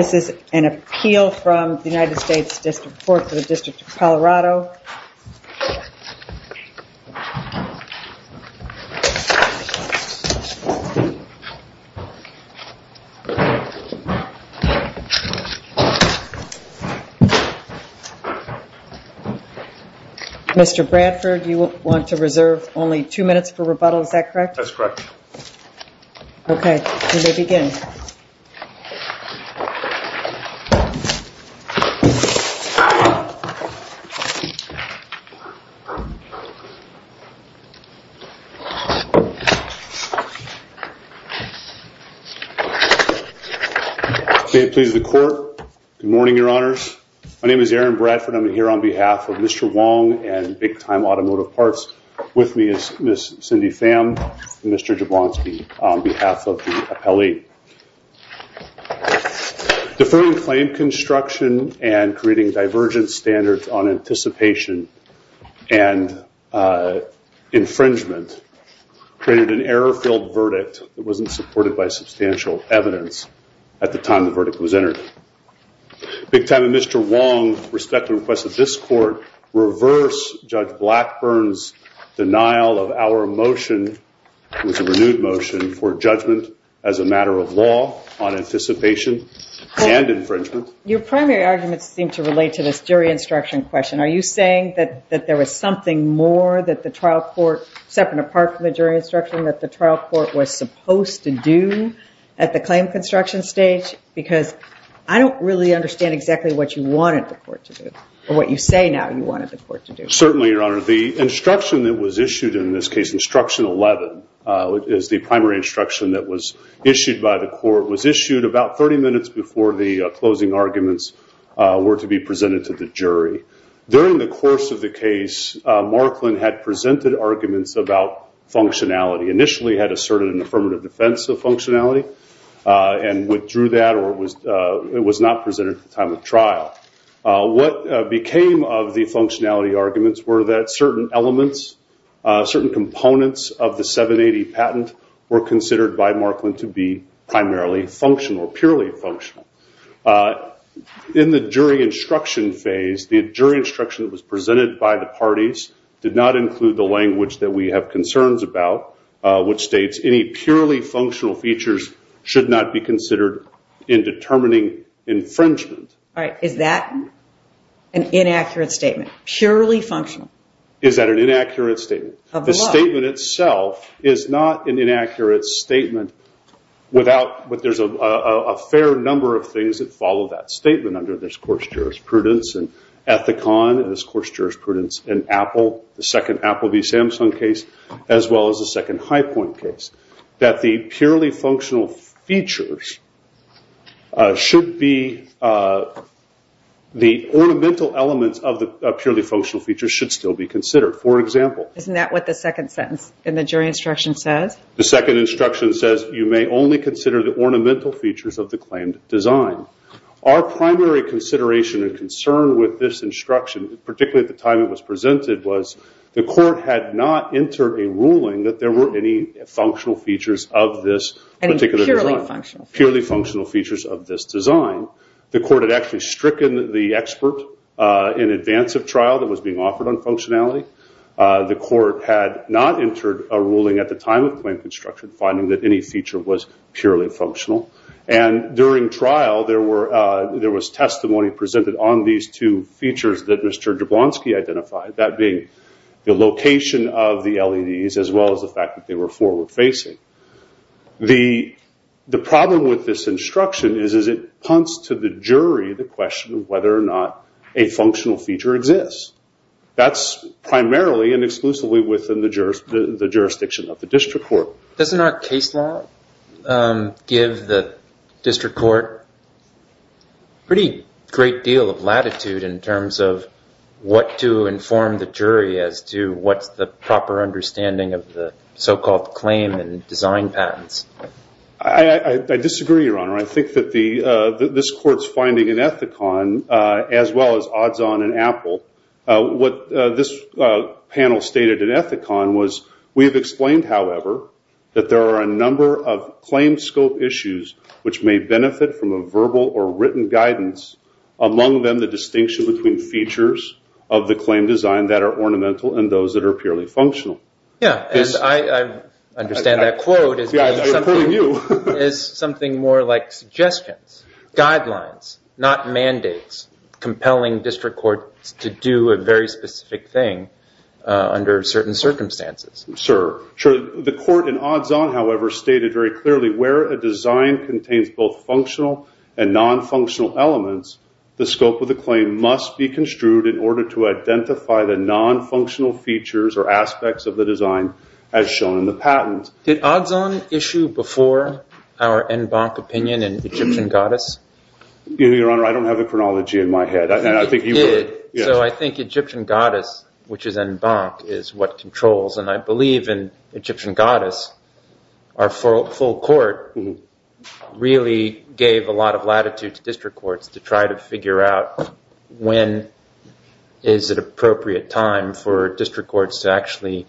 This is an appeal from the United States Supreme Court. United States District Court for the District of Colorado. Mr. Bradford, you want to reserve only two minutes for rebuttal, is that correct? That's correct. Okay, you may begin. May it please the Court. Good morning, Your Honors. My name is Aaron Bradford. I'm here on behalf of Mr. Wong and Big Time Automotive Parts. With me is Ms. Cindy Pham and Mr. Jablonski on behalf of the appellee. Deferring claim construction and creating divergent standards on anticipation and infringement created an error-filled verdict that wasn't supported by substantial evidence at the time the verdict was entered. Big Time and Mr. Wong respectfully request that this Court reverse Judge Blackburn's denial of our motion, which was a renewed motion, for judgment as a matter of law on anticipation and infringement. Your primary arguments seem to relate to this jury instruction question. Are you saying that there was something more that the trial court, separate and apart from the jury instruction, that the trial court was supposed to do at the claim construction stage? Because I don't really understand exactly what you wanted the court to do, or what you say now you wanted the court to do. Certainly, Your Honor. The instruction that was issued in this case, instruction 11, is the primary instruction that was issued by the court, was issued about 30 minutes before the closing arguments were to be presented to the jury. During the course of the case, Marklin had presented arguments about functionality, initially had asserted an affirmative defense of functionality, and withdrew that or it was not presented at the time of trial. What became of the functionality arguments were that certain elements, certain components of the 780 patent were considered by Marklin to be primarily functional, purely functional. In the jury instruction phase, the jury instruction that was presented by the parties did not include the language that we have concerns about, which states any purely functional features should not be considered in determining infringement. All right. Is that an inaccurate statement? Purely functional? Is that an inaccurate statement? The statement itself is not an inaccurate statement without, but there's a fair number of things that follow that statement under this court's jurisprudence, and Ethicon and this court's jurisprudence, and Apple, the second Apple v. Samsung case, as well as the second Highpoint case, that the purely functional features should be, the ornamental elements of the purely functional features should still be considered. For example... Isn't that what the second sentence in the jury instruction says? The second instruction says you may only consider the ornamental features of the claimed design. Our primary consideration and concern with this instruction, particularly at the time it was presented, was the court had not entered a ruling that there were any functional features of this particular design. Any purely functional features. Purely functional features of this design. The court had actually stricken the expert in advance of trial that was being offered on functionality. The court had not entered a ruling at the time of the claim construction finding that any feature was purely functional. And during trial, there was testimony presented on these two features that Mr. Jablonski identified, that being the location of the LEDs as well as the fact that they were forward facing. The problem with this instruction is it punts to the jury the question of whether or not a functional feature exists. That's primarily and exclusively within the jurisdiction of the district court. So doesn't our case law give the district court a pretty great deal of latitude in terms of what to inform the jury as to what's the proper understanding of the so-called claim and design patents? I disagree, Your Honor. I think that this court's finding in Ethicon, as well as odds on in Apple, what this panel stated in Ethicon was, we have explained, however, that there are a number of claim scope issues which may benefit from a verbal or written guidance, among them the distinction between features of the claim design that are ornamental and those that are purely functional. Yeah, and I understand that quote as being something more like suggestions, guidelines, not mandates, compelling district courts to do a very specific thing under certain circumstances. Sure, sure. The court in odds on, however, stated very clearly where a design contains both functional and non-functional elements, the scope of the claim must be construed in order to identify the non-functional features or aspects of the design as shown in the patent. Did odds on issue before our en banc opinion in Egyptian Goddess? Your Honor, I don't have the chronology in my head. It did. So I think Egyptian Goddess, which is en banc, is what controls, and I believe in Egyptian Goddess, our full court really gave a lot of latitude to district courts to try to figure out when is an appropriate time for district courts to actually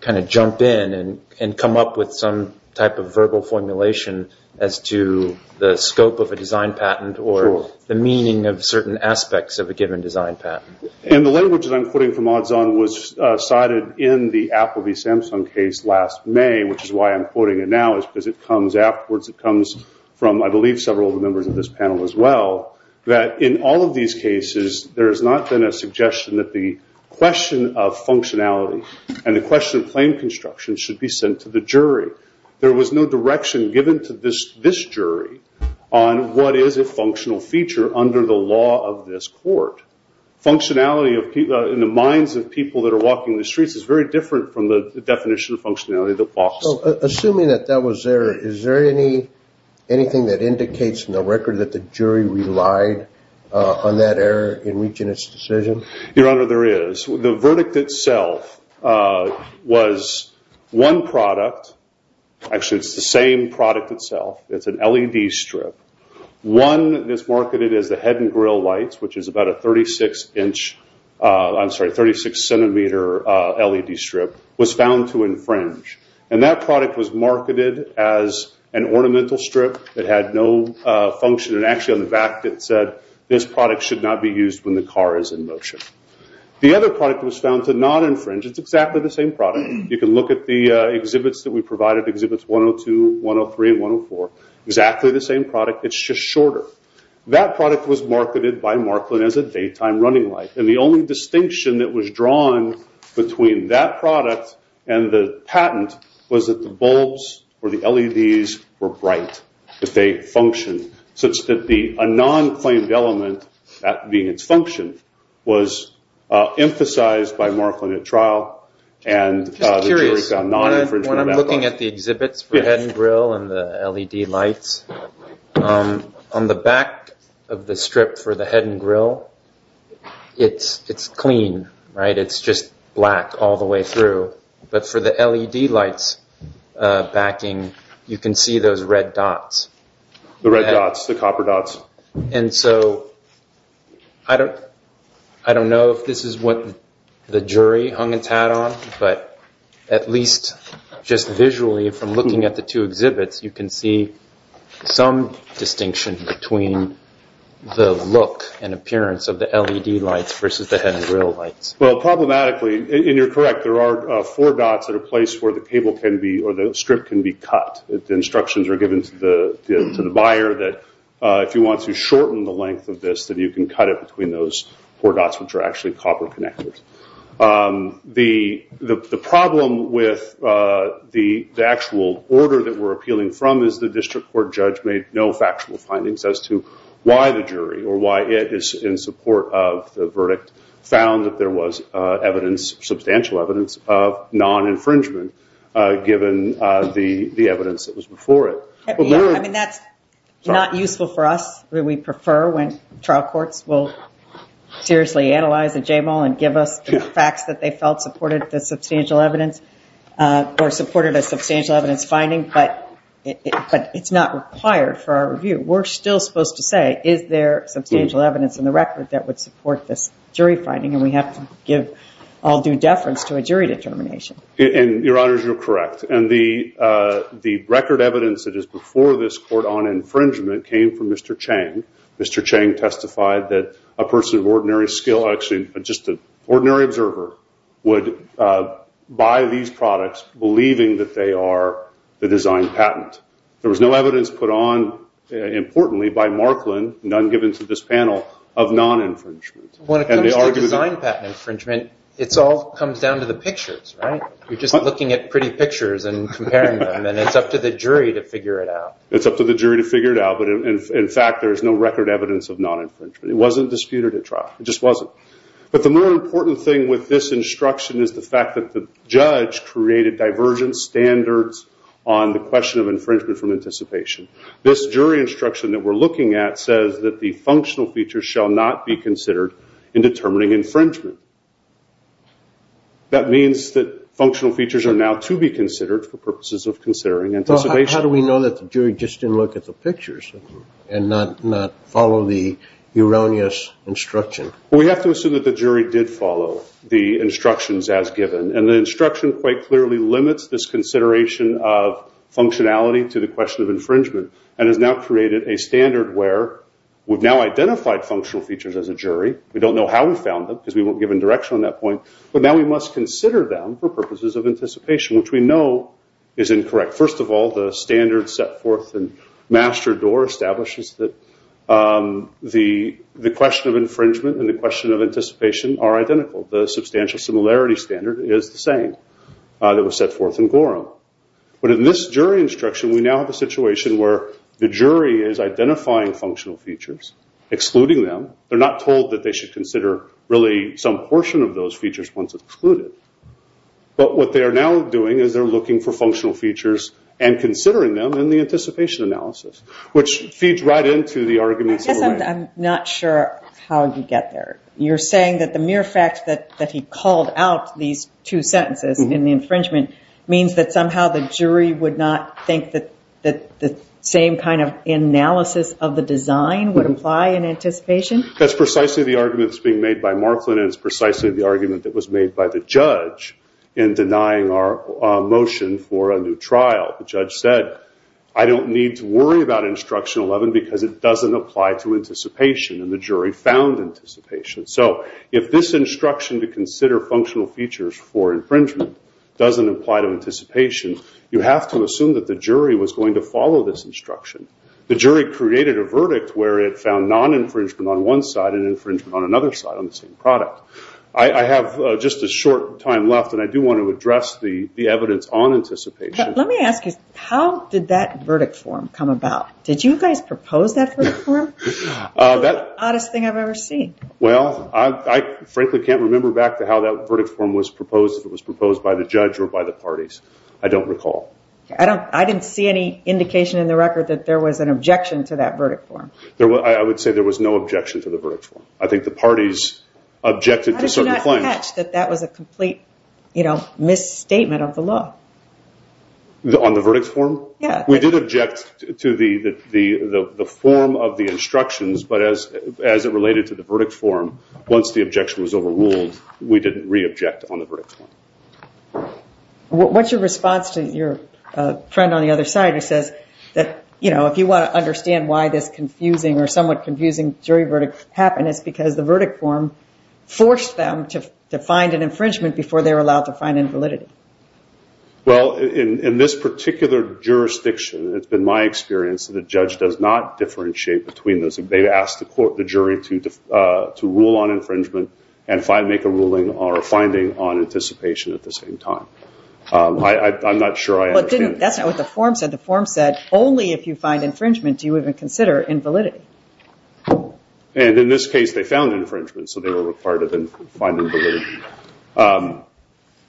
kind of jump in and come up with some type of verbal formulation as to the scope of a design patent or the meaning of certain aspects of a given design patent. And the language that I'm quoting from odds on was cited in the Apple v. Samsung case last May, which is why I'm quoting it now is because it comes afterwards. It comes from, I believe, several of the members of this panel as well, that in all of these cases there has not been a suggestion that the question of functionality and the question of claim construction should be sent to the jury. There was no direction given to this jury on what is a functional feature under the law of this court. Functionality in the minds of people that are walking the streets is very different from the definition of functionality. Assuming that that was there, is there anything that indicates in the record that the jury relied on that error in reaching its decision? Your Honor, there is. The verdict itself was one product. Actually, it's the same product itself. It's an LED strip. One that's marketed as the head and grill lights, which is about a 36-centimeter LED strip, was found to infringe. And that product was marketed as an ornamental strip that had no function. And actually on the back it said, this product should not be used when the car is in motion. The other product was found to not infringe. It's exactly the same product. You can look at the exhibits that we provided, Exhibits 102, 103, and 104. Exactly the same product, it's just shorter. That product was marketed by Marklin as a daytime running light. And the only distinction that was drawn between that product and the patent was that the bulbs or the LEDs were bright. They functioned such that a non-claimed element, that being its function, was emphasized by Marklin at trial. And the jury found non-infringement of that product. When I'm looking at the exhibits for the head and grill and the LED lights, on the back of the strip for the head and grill, it's clean, right? It's just black all the way through. But for the LED lights backing, you can see those red dots. The red dots, the copper dots. And so, I don't know if this is what the jury hung its hat on, but at least just visually from looking at the two exhibits, you can see some distinction between the look and appearance of the LED lights versus the head and grill lights. Well, problematically, and you're correct, there are four dots at a place where the strip can be cut. The instructions are given to the buyer that if you want to shorten the length of this, that you can cut it between those four dots, which are actually copper connectors. The problem with the actual order that we're appealing from is the district court judge made no factual findings as to why the jury or why it is in support of the verdict found that there was substantial evidence of non-infringement, given the evidence that was before it. I mean, that's not useful for us. We prefer when trial courts will seriously analyze the J-Mall and give us the facts that they felt supported the substantial evidence or supported a substantial evidence finding, but it's not required for our review. We're still supposed to say, is there substantial evidence in the record that would support this jury finding? And we have to give all due deference to a jury determination. And, Your Honors, you're correct. And the record evidence that is before this court on infringement came from Mr. Chang. Mr. Chang testified that a person of ordinary skill, actually just an ordinary observer, would buy these products believing that they are the design patent. In fact, there was no evidence put on, importantly, by Marklin, none given to this panel, of non-infringement. When it comes to design patent infringement, it all comes down to the pictures, right? You're just looking at pretty pictures and comparing them, and it's up to the jury to figure it out. It's up to the jury to figure it out, but, in fact, there is no record evidence of non-infringement. It wasn't disputed at trial. It just wasn't. But the more important thing with this instruction is the fact that the judge created divergent standards on the question of infringement from anticipation. This jury instruction that we're looking at says that the functional features shall not be considered in determining infringement. That means that functional features are now to be considered for purposes of considering anticipation. How do we know that the jury just didn't look at the pictures and not follow the erroneous instruction? We have to assume that the jury did follow the instructions as given, and the instruction quite clearly limits this consideration of functionality to the question of infringement and has now created a standard where we've now identified functional features as a jury. We don't know how we found them because we weren't given direction on that point, but now we must consider them for purposes of anticipation, which we know is incorrect. First of all, the standard set forth in Master Door establishes that the question of infringement and the question of anticipation are identical. The substantial similarity standard is the same that was set forth in Gorham. But in this jury instruction, we now have a situation where the jury is identifying functional features, excluding them. They're not told that they should consider really some portion of those features once excluded. But what they are now doing is they're looking for functional features and considering them in the anticipation analysis, which feeds right into the arguments. I'm not sure how you get there. You're saying that the mere fact that he called out these two sentences in the infringement means that somehow the jury would not think that the same kind of analysis of the design would apply in anticipation? That's precisely the argument that's being made by Marklin, and it's precisely the argument that was made by the judge in denying our motion for a new trial. The judge said, I don't need to worry about Instruction 11 because it doesn't apply to anticipation, and the jury found anticipation. So if this instruction to consider functional features for infringement doesn't apply to anticipation, you have to assume that the jury was going to follow this instruction. The jury created a verdict where it found non-infringement on one side and infringement on another side on the same product. I have just a short time left, and I do want to address the evidence on anticipation. Let me ask you, how did that verdict form come about? Did you guys propose that verdict form? That's the oddest thing I've ever seen. Well, I frankly can't remember back to how that verdict form was proposed, if it was proposed by the judge or by the parties. I don't recall. I didn't see any indication in the record that there was an objection to that verdict form. I would say there was no objection to the verdict form. I think the parties objected to certain claims. How did you not catch that that was a complete misstatement of the law? On the verdict form? Yeah. We did object to the form of the instructions, but as it related to the verdict form, once the objection was overruled, we didn't re-object on the verdict form. What's your response to your friend on the other side who says that, you know, if you want to understand why this confusing or somewhat confusing jury verdict happened, it's because the verdict form forced them to find an infringement before they were allowed to find invalidity. Well, in this particular jurisdiction, it's been my experience that the judge does not differentiate between those. They ask the jury to rule on infringement and make a ruling or a finding on anticipation at the same time. I'm not sure I understand. That's not what the form said. The form said only if you find infringement do you even consider invalidity. And in this case, they found infringement, so they were required to find invalidity.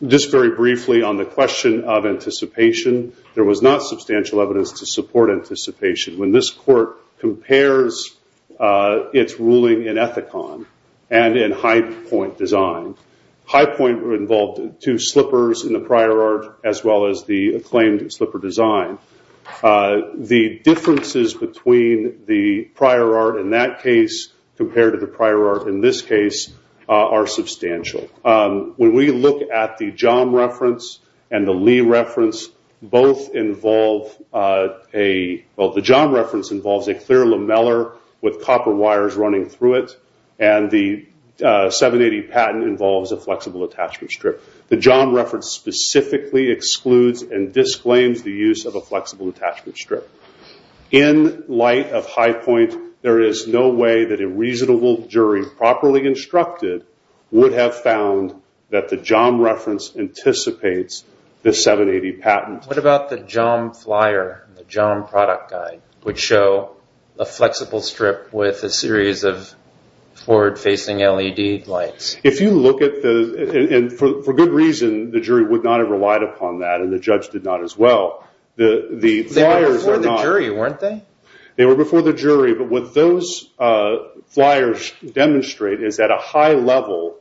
Just very briefly on the question of anticipation, there was not substantial evidence to support anticipation. When this court compares its ruling in Ethicon and in Highpoint Design, Highpoint involved two slippers in the prior art as well as the acclaimed slipper design. The differences between the prior art in that case compared to the prior art in this case are substantial. When we look at the John reference and the Lee reference, the John reference involves a clear lamellar with copper wires running through it, and the 780 patent involves a flexible attachment strip. The John reference specifically excludes and disclaims the use of a flexible attachment strip. In light of Highpoint, there is no way that a reasonable jury, properly instructed, would have found that the John reference anticipates the 780 patent. What about the John flyer, the John product guide, which show a flexible strip with a series of forward-facing LED lights? If you look at the, and for good reason, the jury would not have relied upon that, and the judge did not as well. They were before the jury, weren't they? They were before the jury, but what those flyers demonstrate is at a high level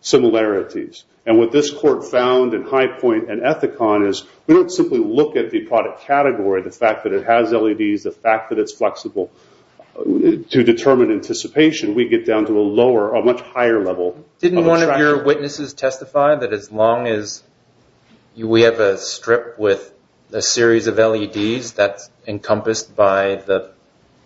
similarities. What this court found in Highpoint and Ethicon is we don't simply look at the product category, the fact that it has LEDs, the fact that it's flexible to determine anticipation. We get down to a lower, a much higher level. Didn't one of your witnesses testify that as long as we have a strip with a series of LEDs, that's encompassed by the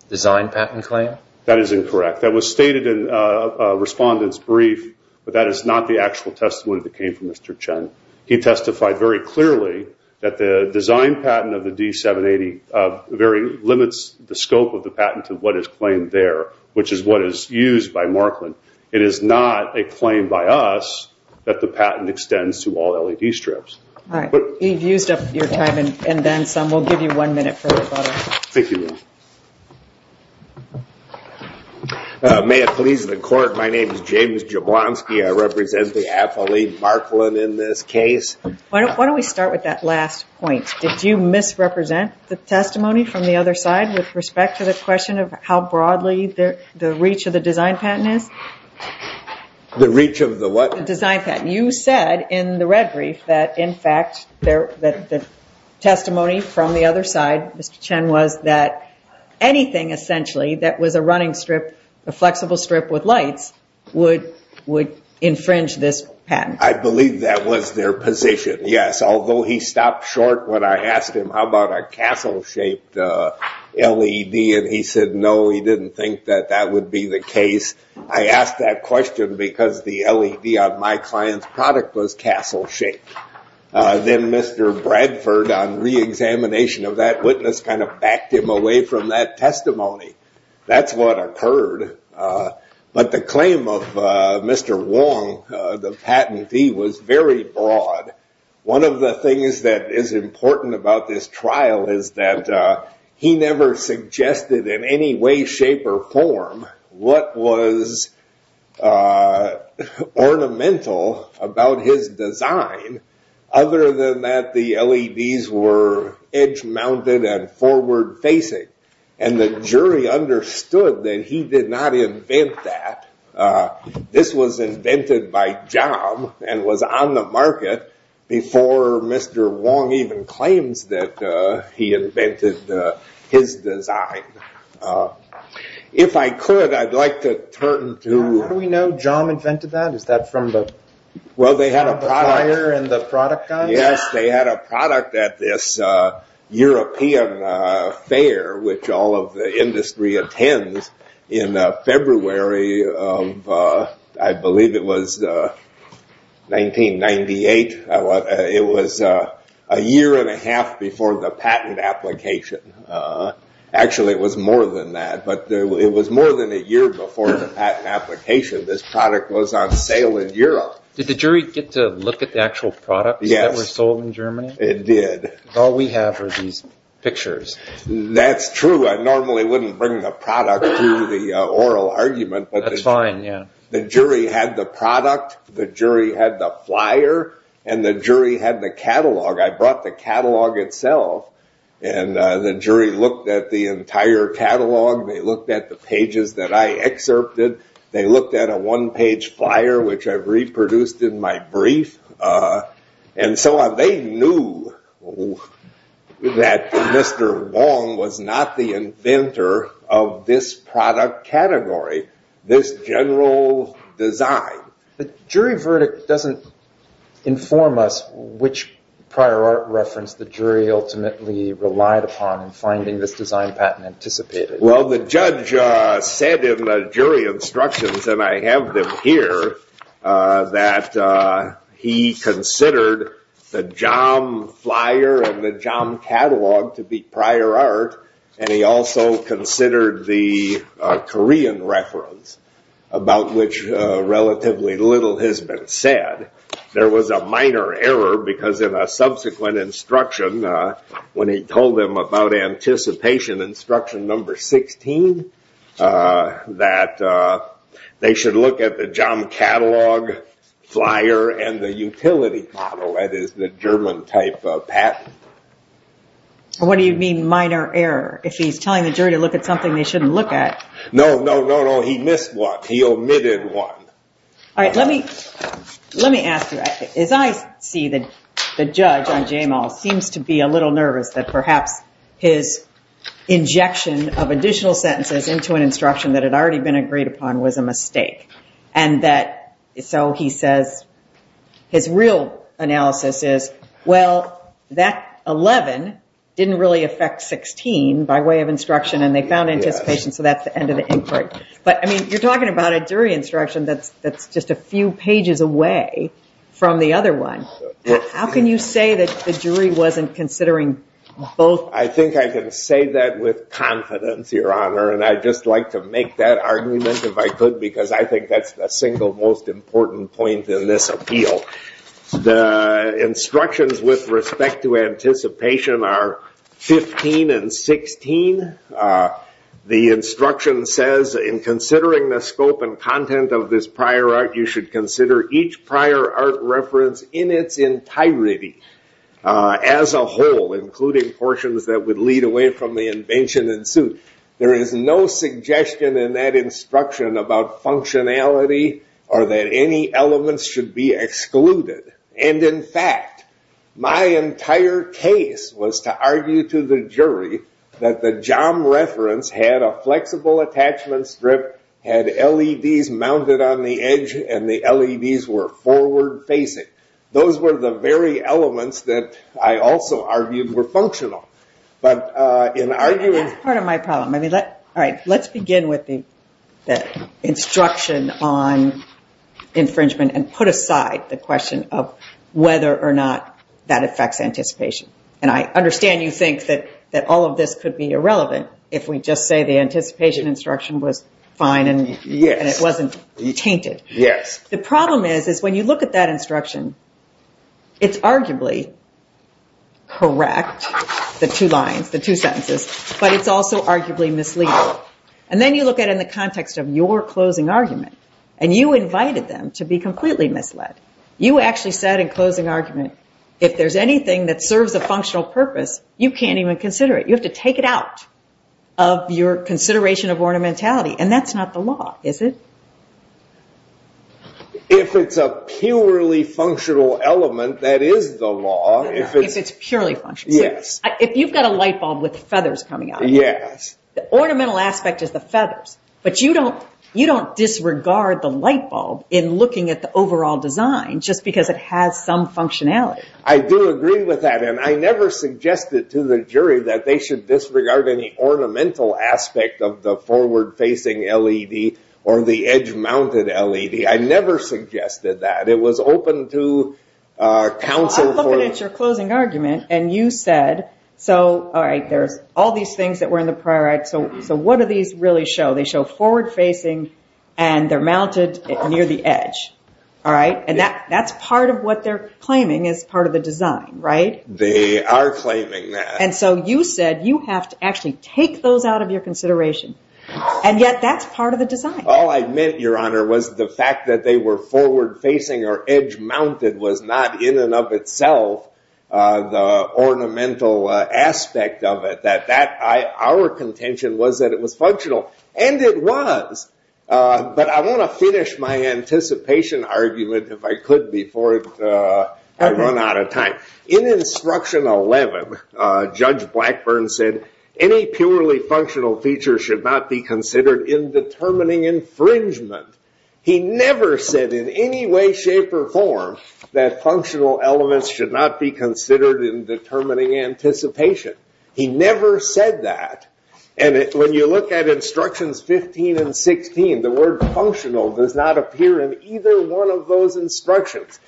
design patent claim? That is incorrect. That was stated in a respondent's brief, but that is not the actual testimony that came from Mr. Chen. He testified very clearly that the design patent of the D780 limits the scope of the patent to what is claimed there, which is what is used by Marklin. It is not a claim by us that the patent extends to all LED strips. All right. You've used up your time, and then some. We'll give you one minute for rebuttal. Thank you. May it please the court, my name is James Jablonski. I represent the affiliate Marklin in this case. Why don't we start with that last point? Did you misrepresent the testimony from the other side with respect to the question of how broadly the reach of the design patent is? The reach of the what? The design patent. You said in the red brief that, in fact, the testimony from the other side, Mr. Chen, was that anything essentially that was a running strip, a flexible strip with lights, would infringe this patent. I believe that was their position, yes, although he stopped short when I asked him, how about a castle-shaped LED, and he said no, he didn't think that that would be the case. I asked that question because the LED on my client's product was castle-shaped. Then Mr. Bradford, on reexamination of that witness, kind of backed him away from that testimony. That's what occurred. But the claim of Mr. Wong, the patentee, was very broad. One of the things that is important about this trial is that he never suggested in any way, shape, or form what was ornamental about his design other than that the LEDs were edge-mounted and forward-facing. The jury understood that he did not invent that. This was invented by Jom and was on the market before Mr. Wong even claims that he invented his design. If I could, I'd like to turn to- How do we know Jom invented that? Is that from the- Well, they had a product- The buyer and the product guy? I believe it was 1998. It was a year and a half before the patent application. Actually, it was more than that. But it was more than a year before the patent application. This product was on sale in Europe. Did the jury get to look at the actual product that was sold in Germany? Yes, it did. All we have are these pictures. That's true. I normally wouldn't bring the product to the oral argument. That's fine, yeah. The jury had the product. The jury had the flyer. And the jury had the catalog. I brought the catalog itself. And the jury looked at the entire catalog. They looked at the pages that I excerpted. They looked at a one-page flyer, which I reproduced in my brief. And so they knew that Mr. Wong was not the inventor of this product category, this general design. The jury verdict doesn't inform us which prior art reference the jury ultimately relied upon in finding this design patent anticipated. Well, the judge said in the jury instructions, and I have them here, that he considered the Jom flyer and the Jom catalog to be prior art. And he also considered the Korean reference, about which relatively little has been said. There was a minor error, because in a subsequent instruction, when he told them about anticipation instruction number 16, that they should look at the Jom catalog, flyer, and the utility model, that is the German-type patent. What do you mean, minor error? If he's telling the jury to look at something they shouldn't look at. No, no, no, no, he missed one. He omitted one. All right, let me ask you, as I see the judge on J-Mal, seems to be a little nervous that perhaps his injection of additional sentences into an instruction that had already been agreed upon was a mistake. And that, so he says, his real analysis is, well, that 11 didn't really affect 16 by way of instruction, and they found anticipation, so that's the end of the inquiry. But, I mean, you're talking about a jury instruction that's just a few pages away from the other one. How can you say that the jury wasn't considering both? I think I can say that with confidence, Your Honor, and I'd just like to make that argument if I could, because I think that's the single most important point in this appeal. The instructions with respect to anticipation are 15 and 16. The instruction says, in considering the scope and content of this prior art, you should consider each prior art reference in its entirety as a whole, including portions that would lead away from the invention and suit. There is no suggestion in that instruction about functionality or that any elements should be excluded. And, in fact, my entire case was to argue to the jury that the job reference had a flexible attachment strip, had LEDs mounted on the edge, and the LEDs were forward-facing. Those were the very elements that I also argued were functional. That's part of my problem. Let's begin with the instruction on infringement and put aside the question of whether or not that affects anticipation. And I understand you think that all of this could be irrelevant if we just say the anticipation instruction was fine and it wasn't tainted. Yes. The problem is, is when you look at that instruction, it's arguably correct, the two lines, the two sentences, but it's also arguably misleading. And then you look at it in the context of your closing argument, and you invited them to be completely misled. You actually said in closing argument, if there's anything that serves a functional purpose, you can't even consider it. You have to take it out of your consideration of ornamentality. And that's not the law, is it? If it's a purely functional element, that is the law. If it's purely functional. Yes. If you've got a light bulb with feathers coming out of it. Yes. The ornamental aspect is the feathers. But you don't disregard the light bulb in looking at the overall design just because it has some functionality. I do agree with that, and I never suggested to the jury that they should disregard any ornamental aspect of the forward-facing LED or the edge-mounted LED. I never suggested that. It was open to counsel. I'm looking at your closing argument, and you said, all right, there's all these things that were in the prior act, so what do these really show? They show forward-facing, and they're mounted near the edge. And that's part of what they're claiming is part of the design, right? They are claiming that. And so you said you have to actually take those out of your consideration, and yet that's part of the design. All I meant, Your Honor, was the fact that they were forward-facing or edge-mounted was not in and of itself the ornamental aspect of it. Our contention was that it was functional, and it was. But I want to finish my anticipation argument, if I could, before I run out of time. In Instruction 11, Judge Blackburn said any purely functional feature should not be considered in determining infringement. He never said in any way, shape, or form that functional elements should not be considered in determining anticipation. He never said that. And when you look at Instructions 15 and 16, the word functional does not appear in either one of those instructions.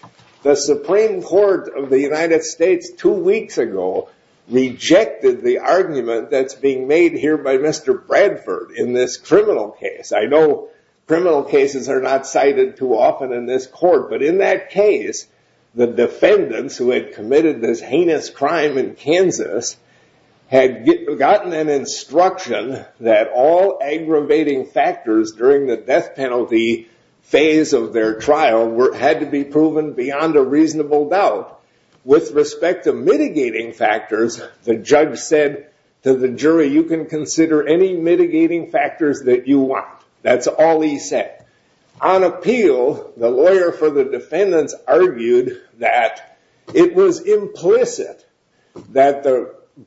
The Supreme Court of the United States two weeks ago rejected the argument that's being made here by Mr. Bradford in this criminal case. I know criminal cases are not cited too often in this court, but in that case, the defendants who had committed this heinous crime in Kansas had gotten an instruction that all aggravating factors during the death penalty phase of their trial had to be proven beyond a reasonable doubt. With respect to mitigating factors, the judge said to the jury, you can consider any mitigating factors that you want. That's all he said. On appeal, the lawyer for the defendants argued that it was implicit that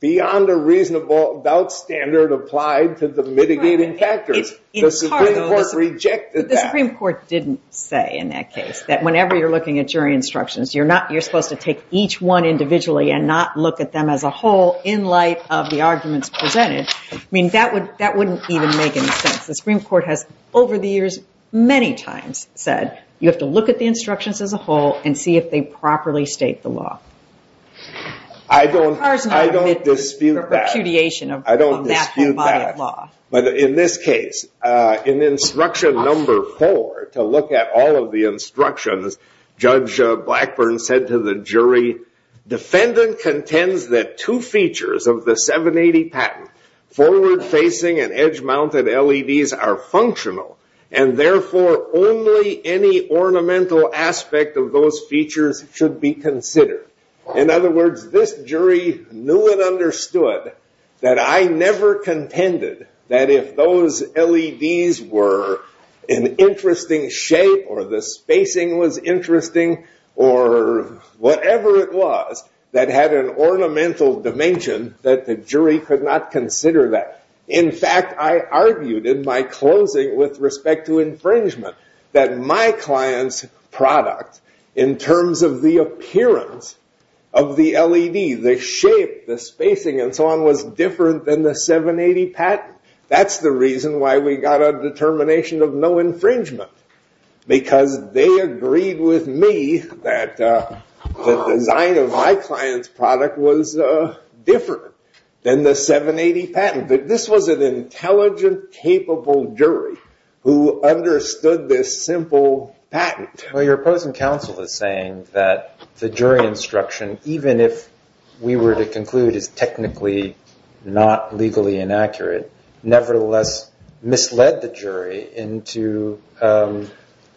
beyond a reasonable doubt standard applied to the mitigating factors. The Supreme Court rejected that. The Supreme Court didn't say in that case that whenever you're looking at jury instructions, you're supposed to take each one individually and not look at them as a whole in light of the arguments presented. I mean, that wouldn't even make any sense. The Supreme Court has over the years many times said you have to look at the instructions as a whole and see if they properly state the law. I don't dispute that. I don't dispute that. But in this case, in instruction number four, to look at all of the instructions, Judge Blackburn said to the jury, defendant contends that two features of the 780 patent, forward-facing and edge-mounted LEDs are functional, and therefore only any ornamental aspect of those features should be considered. In other words, this jury knew and understood that I never contended that if those LEDs were an interesting shape or the spacing was interesting or whatever it was that had an ornamental dimension that the jury could not consider that. In fact, I argued in my closing with respect to infringement that my client's product in terms of the appearance of the LED, the shape, the spacing, and so on was different than the 780 patent. That's the reason why we got a determination of no infringement, because they agreed with me that the design of my client's product was different than the 780 patent. This was an intelligent, capable jury who understood this simple patent. Well, your opposing counsel is saying that the jury instruction, even if we were to conclude is technically not legally inaccurate, nevertheless misled the jury into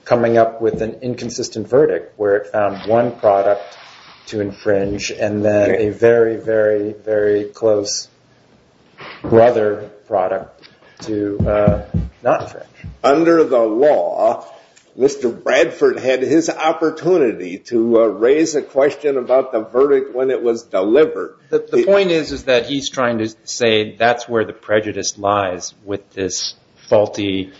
coming up with an inconsistent verdict where it found one product to infringe and then a very, very, very close brother product to not infringe. Under the law, Mr. Bradford had his opportunity to raise a question about the verdict when it was delivered. The point is that he's trying to say that's where the prejudice lies with this faulty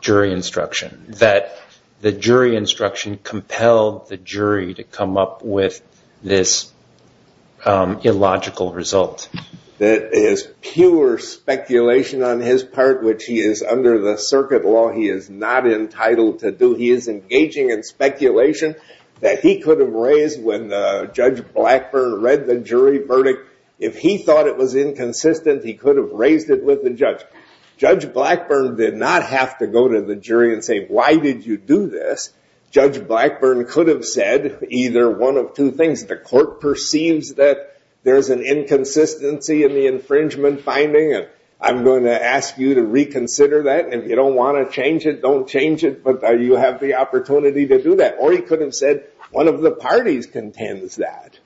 jury instruction, that the jury instruction compelled the jury to come up with this illogical result. That is pure speculation on his part, which he is under the circuit law, he is not entitled to do. He is engaging in speculation that he could have raised when Judge Blackburn read the jury verdict. If he thought it was inconsistent, he could have raised it with the judge. Judge Blackburn did not have to go to the jury and say, why did you do this? Judge Blackburn could have said either one of two things. The court perceives that there's an inconsistency in the infringement finding and I'm going to ask you to reconsider that. If you don't want to change it, don't change it, but you have the opportunity to do that. Or he could have said one of the parties contends that.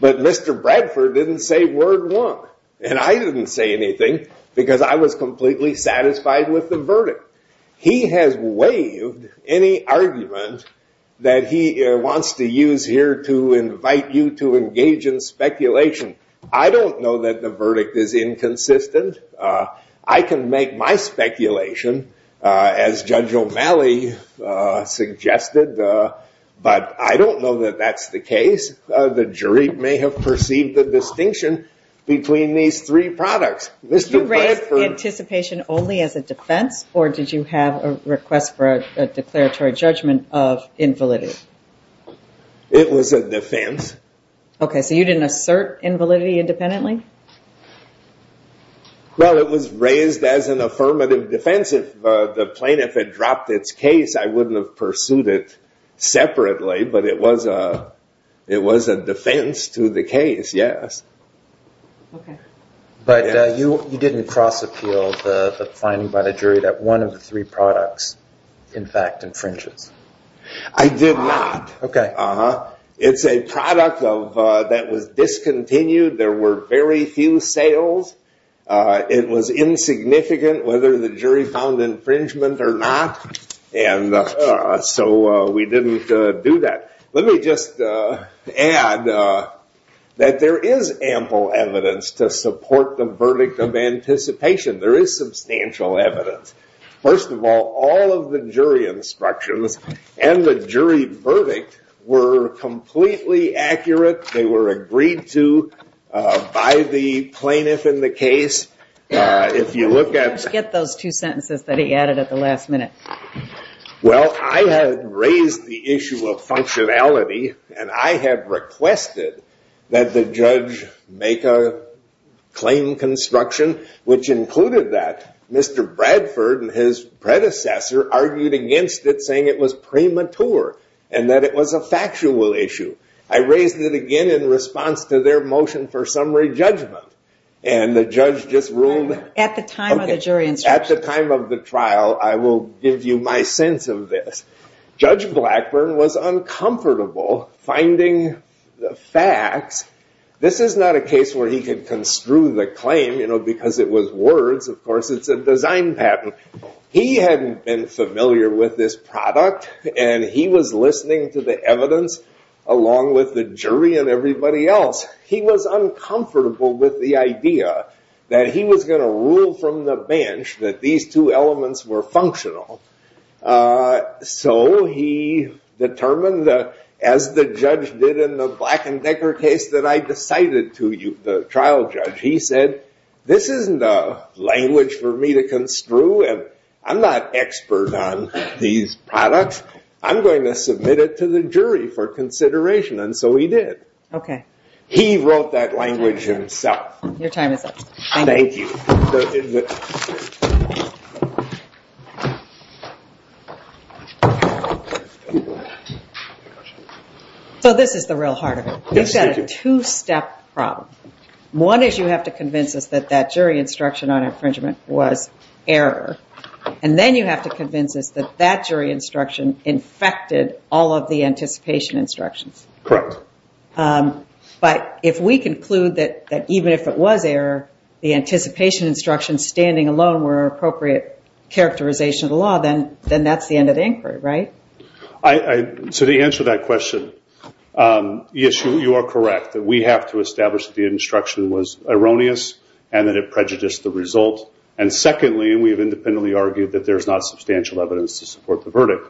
But Mr. Bradford didn't say word one. And I didn't say anything because I was completely satisfied with the verdict. He has waived any argument that he wants to use here to invite you to engage in speculation. I don't know that the verdict is inconsistent. I can make my speculation as Judge O'Malley suggested, but I don't know that that's the case. The jury may have perceived the distinction between these three products. Did you raise anticipation only as a defense or did you have a request for a declaratory judgment of invalidity? It was a defense. Okay, so you didn't assert invalidity independently? Well, it was raised as an affirmative defense. If the plaintiff had dropped its case, I wouldn't have pursued it separately, but it was a defense to the case, yes. But you didn't cross-appeal the finding by the jury that one of the three products, in fact, infringes? I did not. It's a product that was discontinued. There were very few sales. It was insignificant whether the jury found infringement or not, so we didn't do that. Let me just add that there is ample evidence to support the verdict of anticipation. There is substantial evidence. First of all, all of the jury instructions and the jury verdict were completely accurate. They were agreed to by the plaintiff in the case. If you look at— I forget those two sentences that he added at the last minute. Well, I had raised the issue of functionality, and I had requested that the judge make a claim construction which included that. Mr. Bradford and his predecessor argued against it, saying it was premature and that it was a factual issue. I raised it again in response to their motion for summary judgment, and the judge just ruled— I will give you my sense of this. Judge Blackburn was uncomfortable finding the facts. This is not a case where he could construe the claim because it was words. Of course, it's a design patent. He hadn't been familiar with this product, and he was listening to the evidence along with the jury and everybody else. He was uncomfortable with the idea that he was going to rule from the bench that these two elements were functional. So he determined, as the judge did in the Black and Decker case that I decided to—the trial judge. He said, this isn't a language for me to construe, and I'm not expert on these products. I'm going to submit it to the jury for consideration, and so he did. He wrote that language himself. Your time is up. Thank you. So this is the real heart of it. We've got a two-step problem. One is you have to convince us that that jury instruction on infringement was error, and then you have to convince us that that jury instruction infected all of the anticipation instructions. Correct. But if we conclude that even if it was error, the anticipation instructions standing alone were an appropriate characterization of the law, then that's the end of the inquiry, right? So to answer that question, yes, you are correct. We have to establish that the instruction was erroneous and that it prejudiced the result, and secondly, we've independently argued that there's not substantial evidence to support the verdict.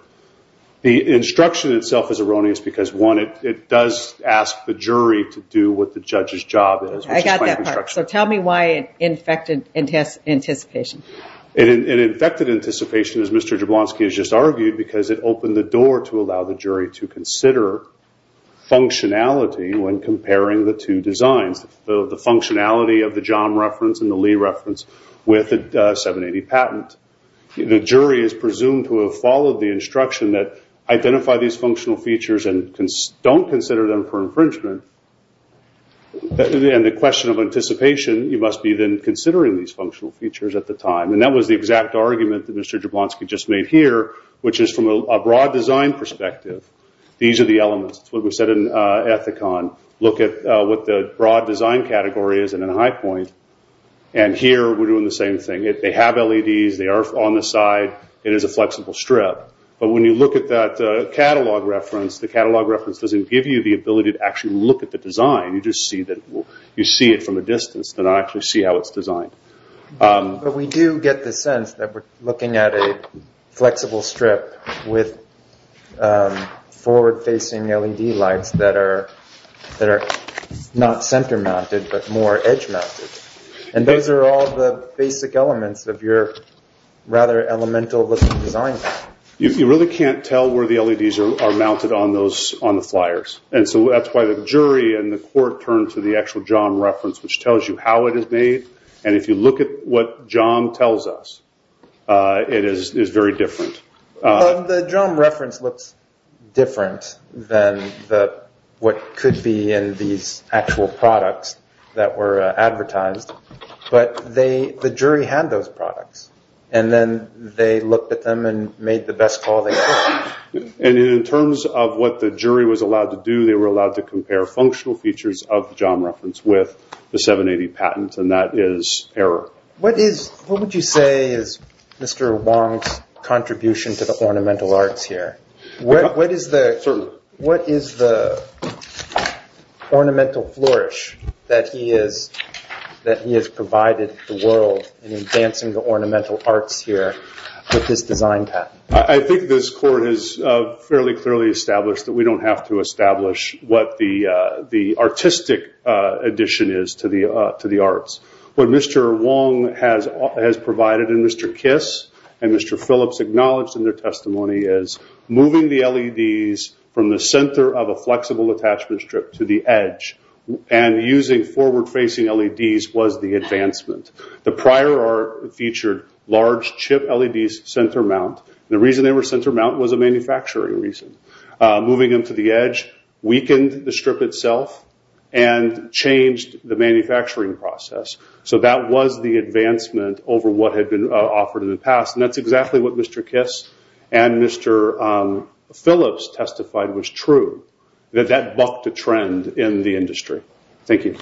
The instruction itself is erroneous because, one, it does ask the jury to do what the judge's job is. I got that part. So tell me why it infected anticipation. It infected anticipation, as Mr. Jablonski has just argued, because it opened the door to allow the jury to consider functionality when comparing the two designs, the functionality of the John reference and the Lee reference with a 780 patent. The jury is presumed to have followed the instruction that identify these functional features and don't consider them for infringement, and the question of anticipation, you must be then considering these functional features at the time, and that was the exact argument that Mr. Jablonski just made here, which is from a broad design perspective, these are the elements. It's what we said in Ethicon. Look at what the broad design category is in a high point, and here we're doing the same thing. They have LEDs. They are on the side. It is a flexible strip, but when you look at that catalog reference, the catalog reference doesn't give you the ability to actually look at the design. You just see it from a distance, but not actually see how it's designed. But we do get the sense that we're looking at a flexible strip with forward-facing LED lights that are not center-mounted but more edge-mounted, and those are all the basic elements of your rather elemental-looking design. You really can't tell where the LEDs are mounted on the flyers, and so that's why the jury and the court turned to the actual JOM reference, which tells you how it is made, and if you look at what JOM tells us, it is very different. The JOM reference looks different than what could be in these actual products that were advertised, but the jury had those products, and then they looked at them and made the best call they could. In terms of what the jury was allowed to do, they were allowed to compare functional features of the JOM reference with the 780 patent, and that is error. What would you say is Mr. Wong's contribution to the ornamental arts here? What is the ornamental flourish that he has provided the world in advancing the ornamental arts here with this design patent? I think this court has fairly clearly established that we don't have to establish what the artistic addition is to the arts. What Mr. Wong has provided, and Mr. Kiss and Mr. Phillips acknowledged in their testimony, is moving the LEDs from the center of a flexible attachment strip to the edge, and using forward-facing LEDs was the advancement. The prior art featured large chip LEDs center-mount. The reason they were center-mount was a manufacturing reason. Moving them to the edge weakened the strip itself and changed the manufacturing process. That was the advancement over what had been offered in the past, and that's exactly what Mr. Kiss and Mr. Phillips testified was true, that that bucked a trend in the industry. Thank you.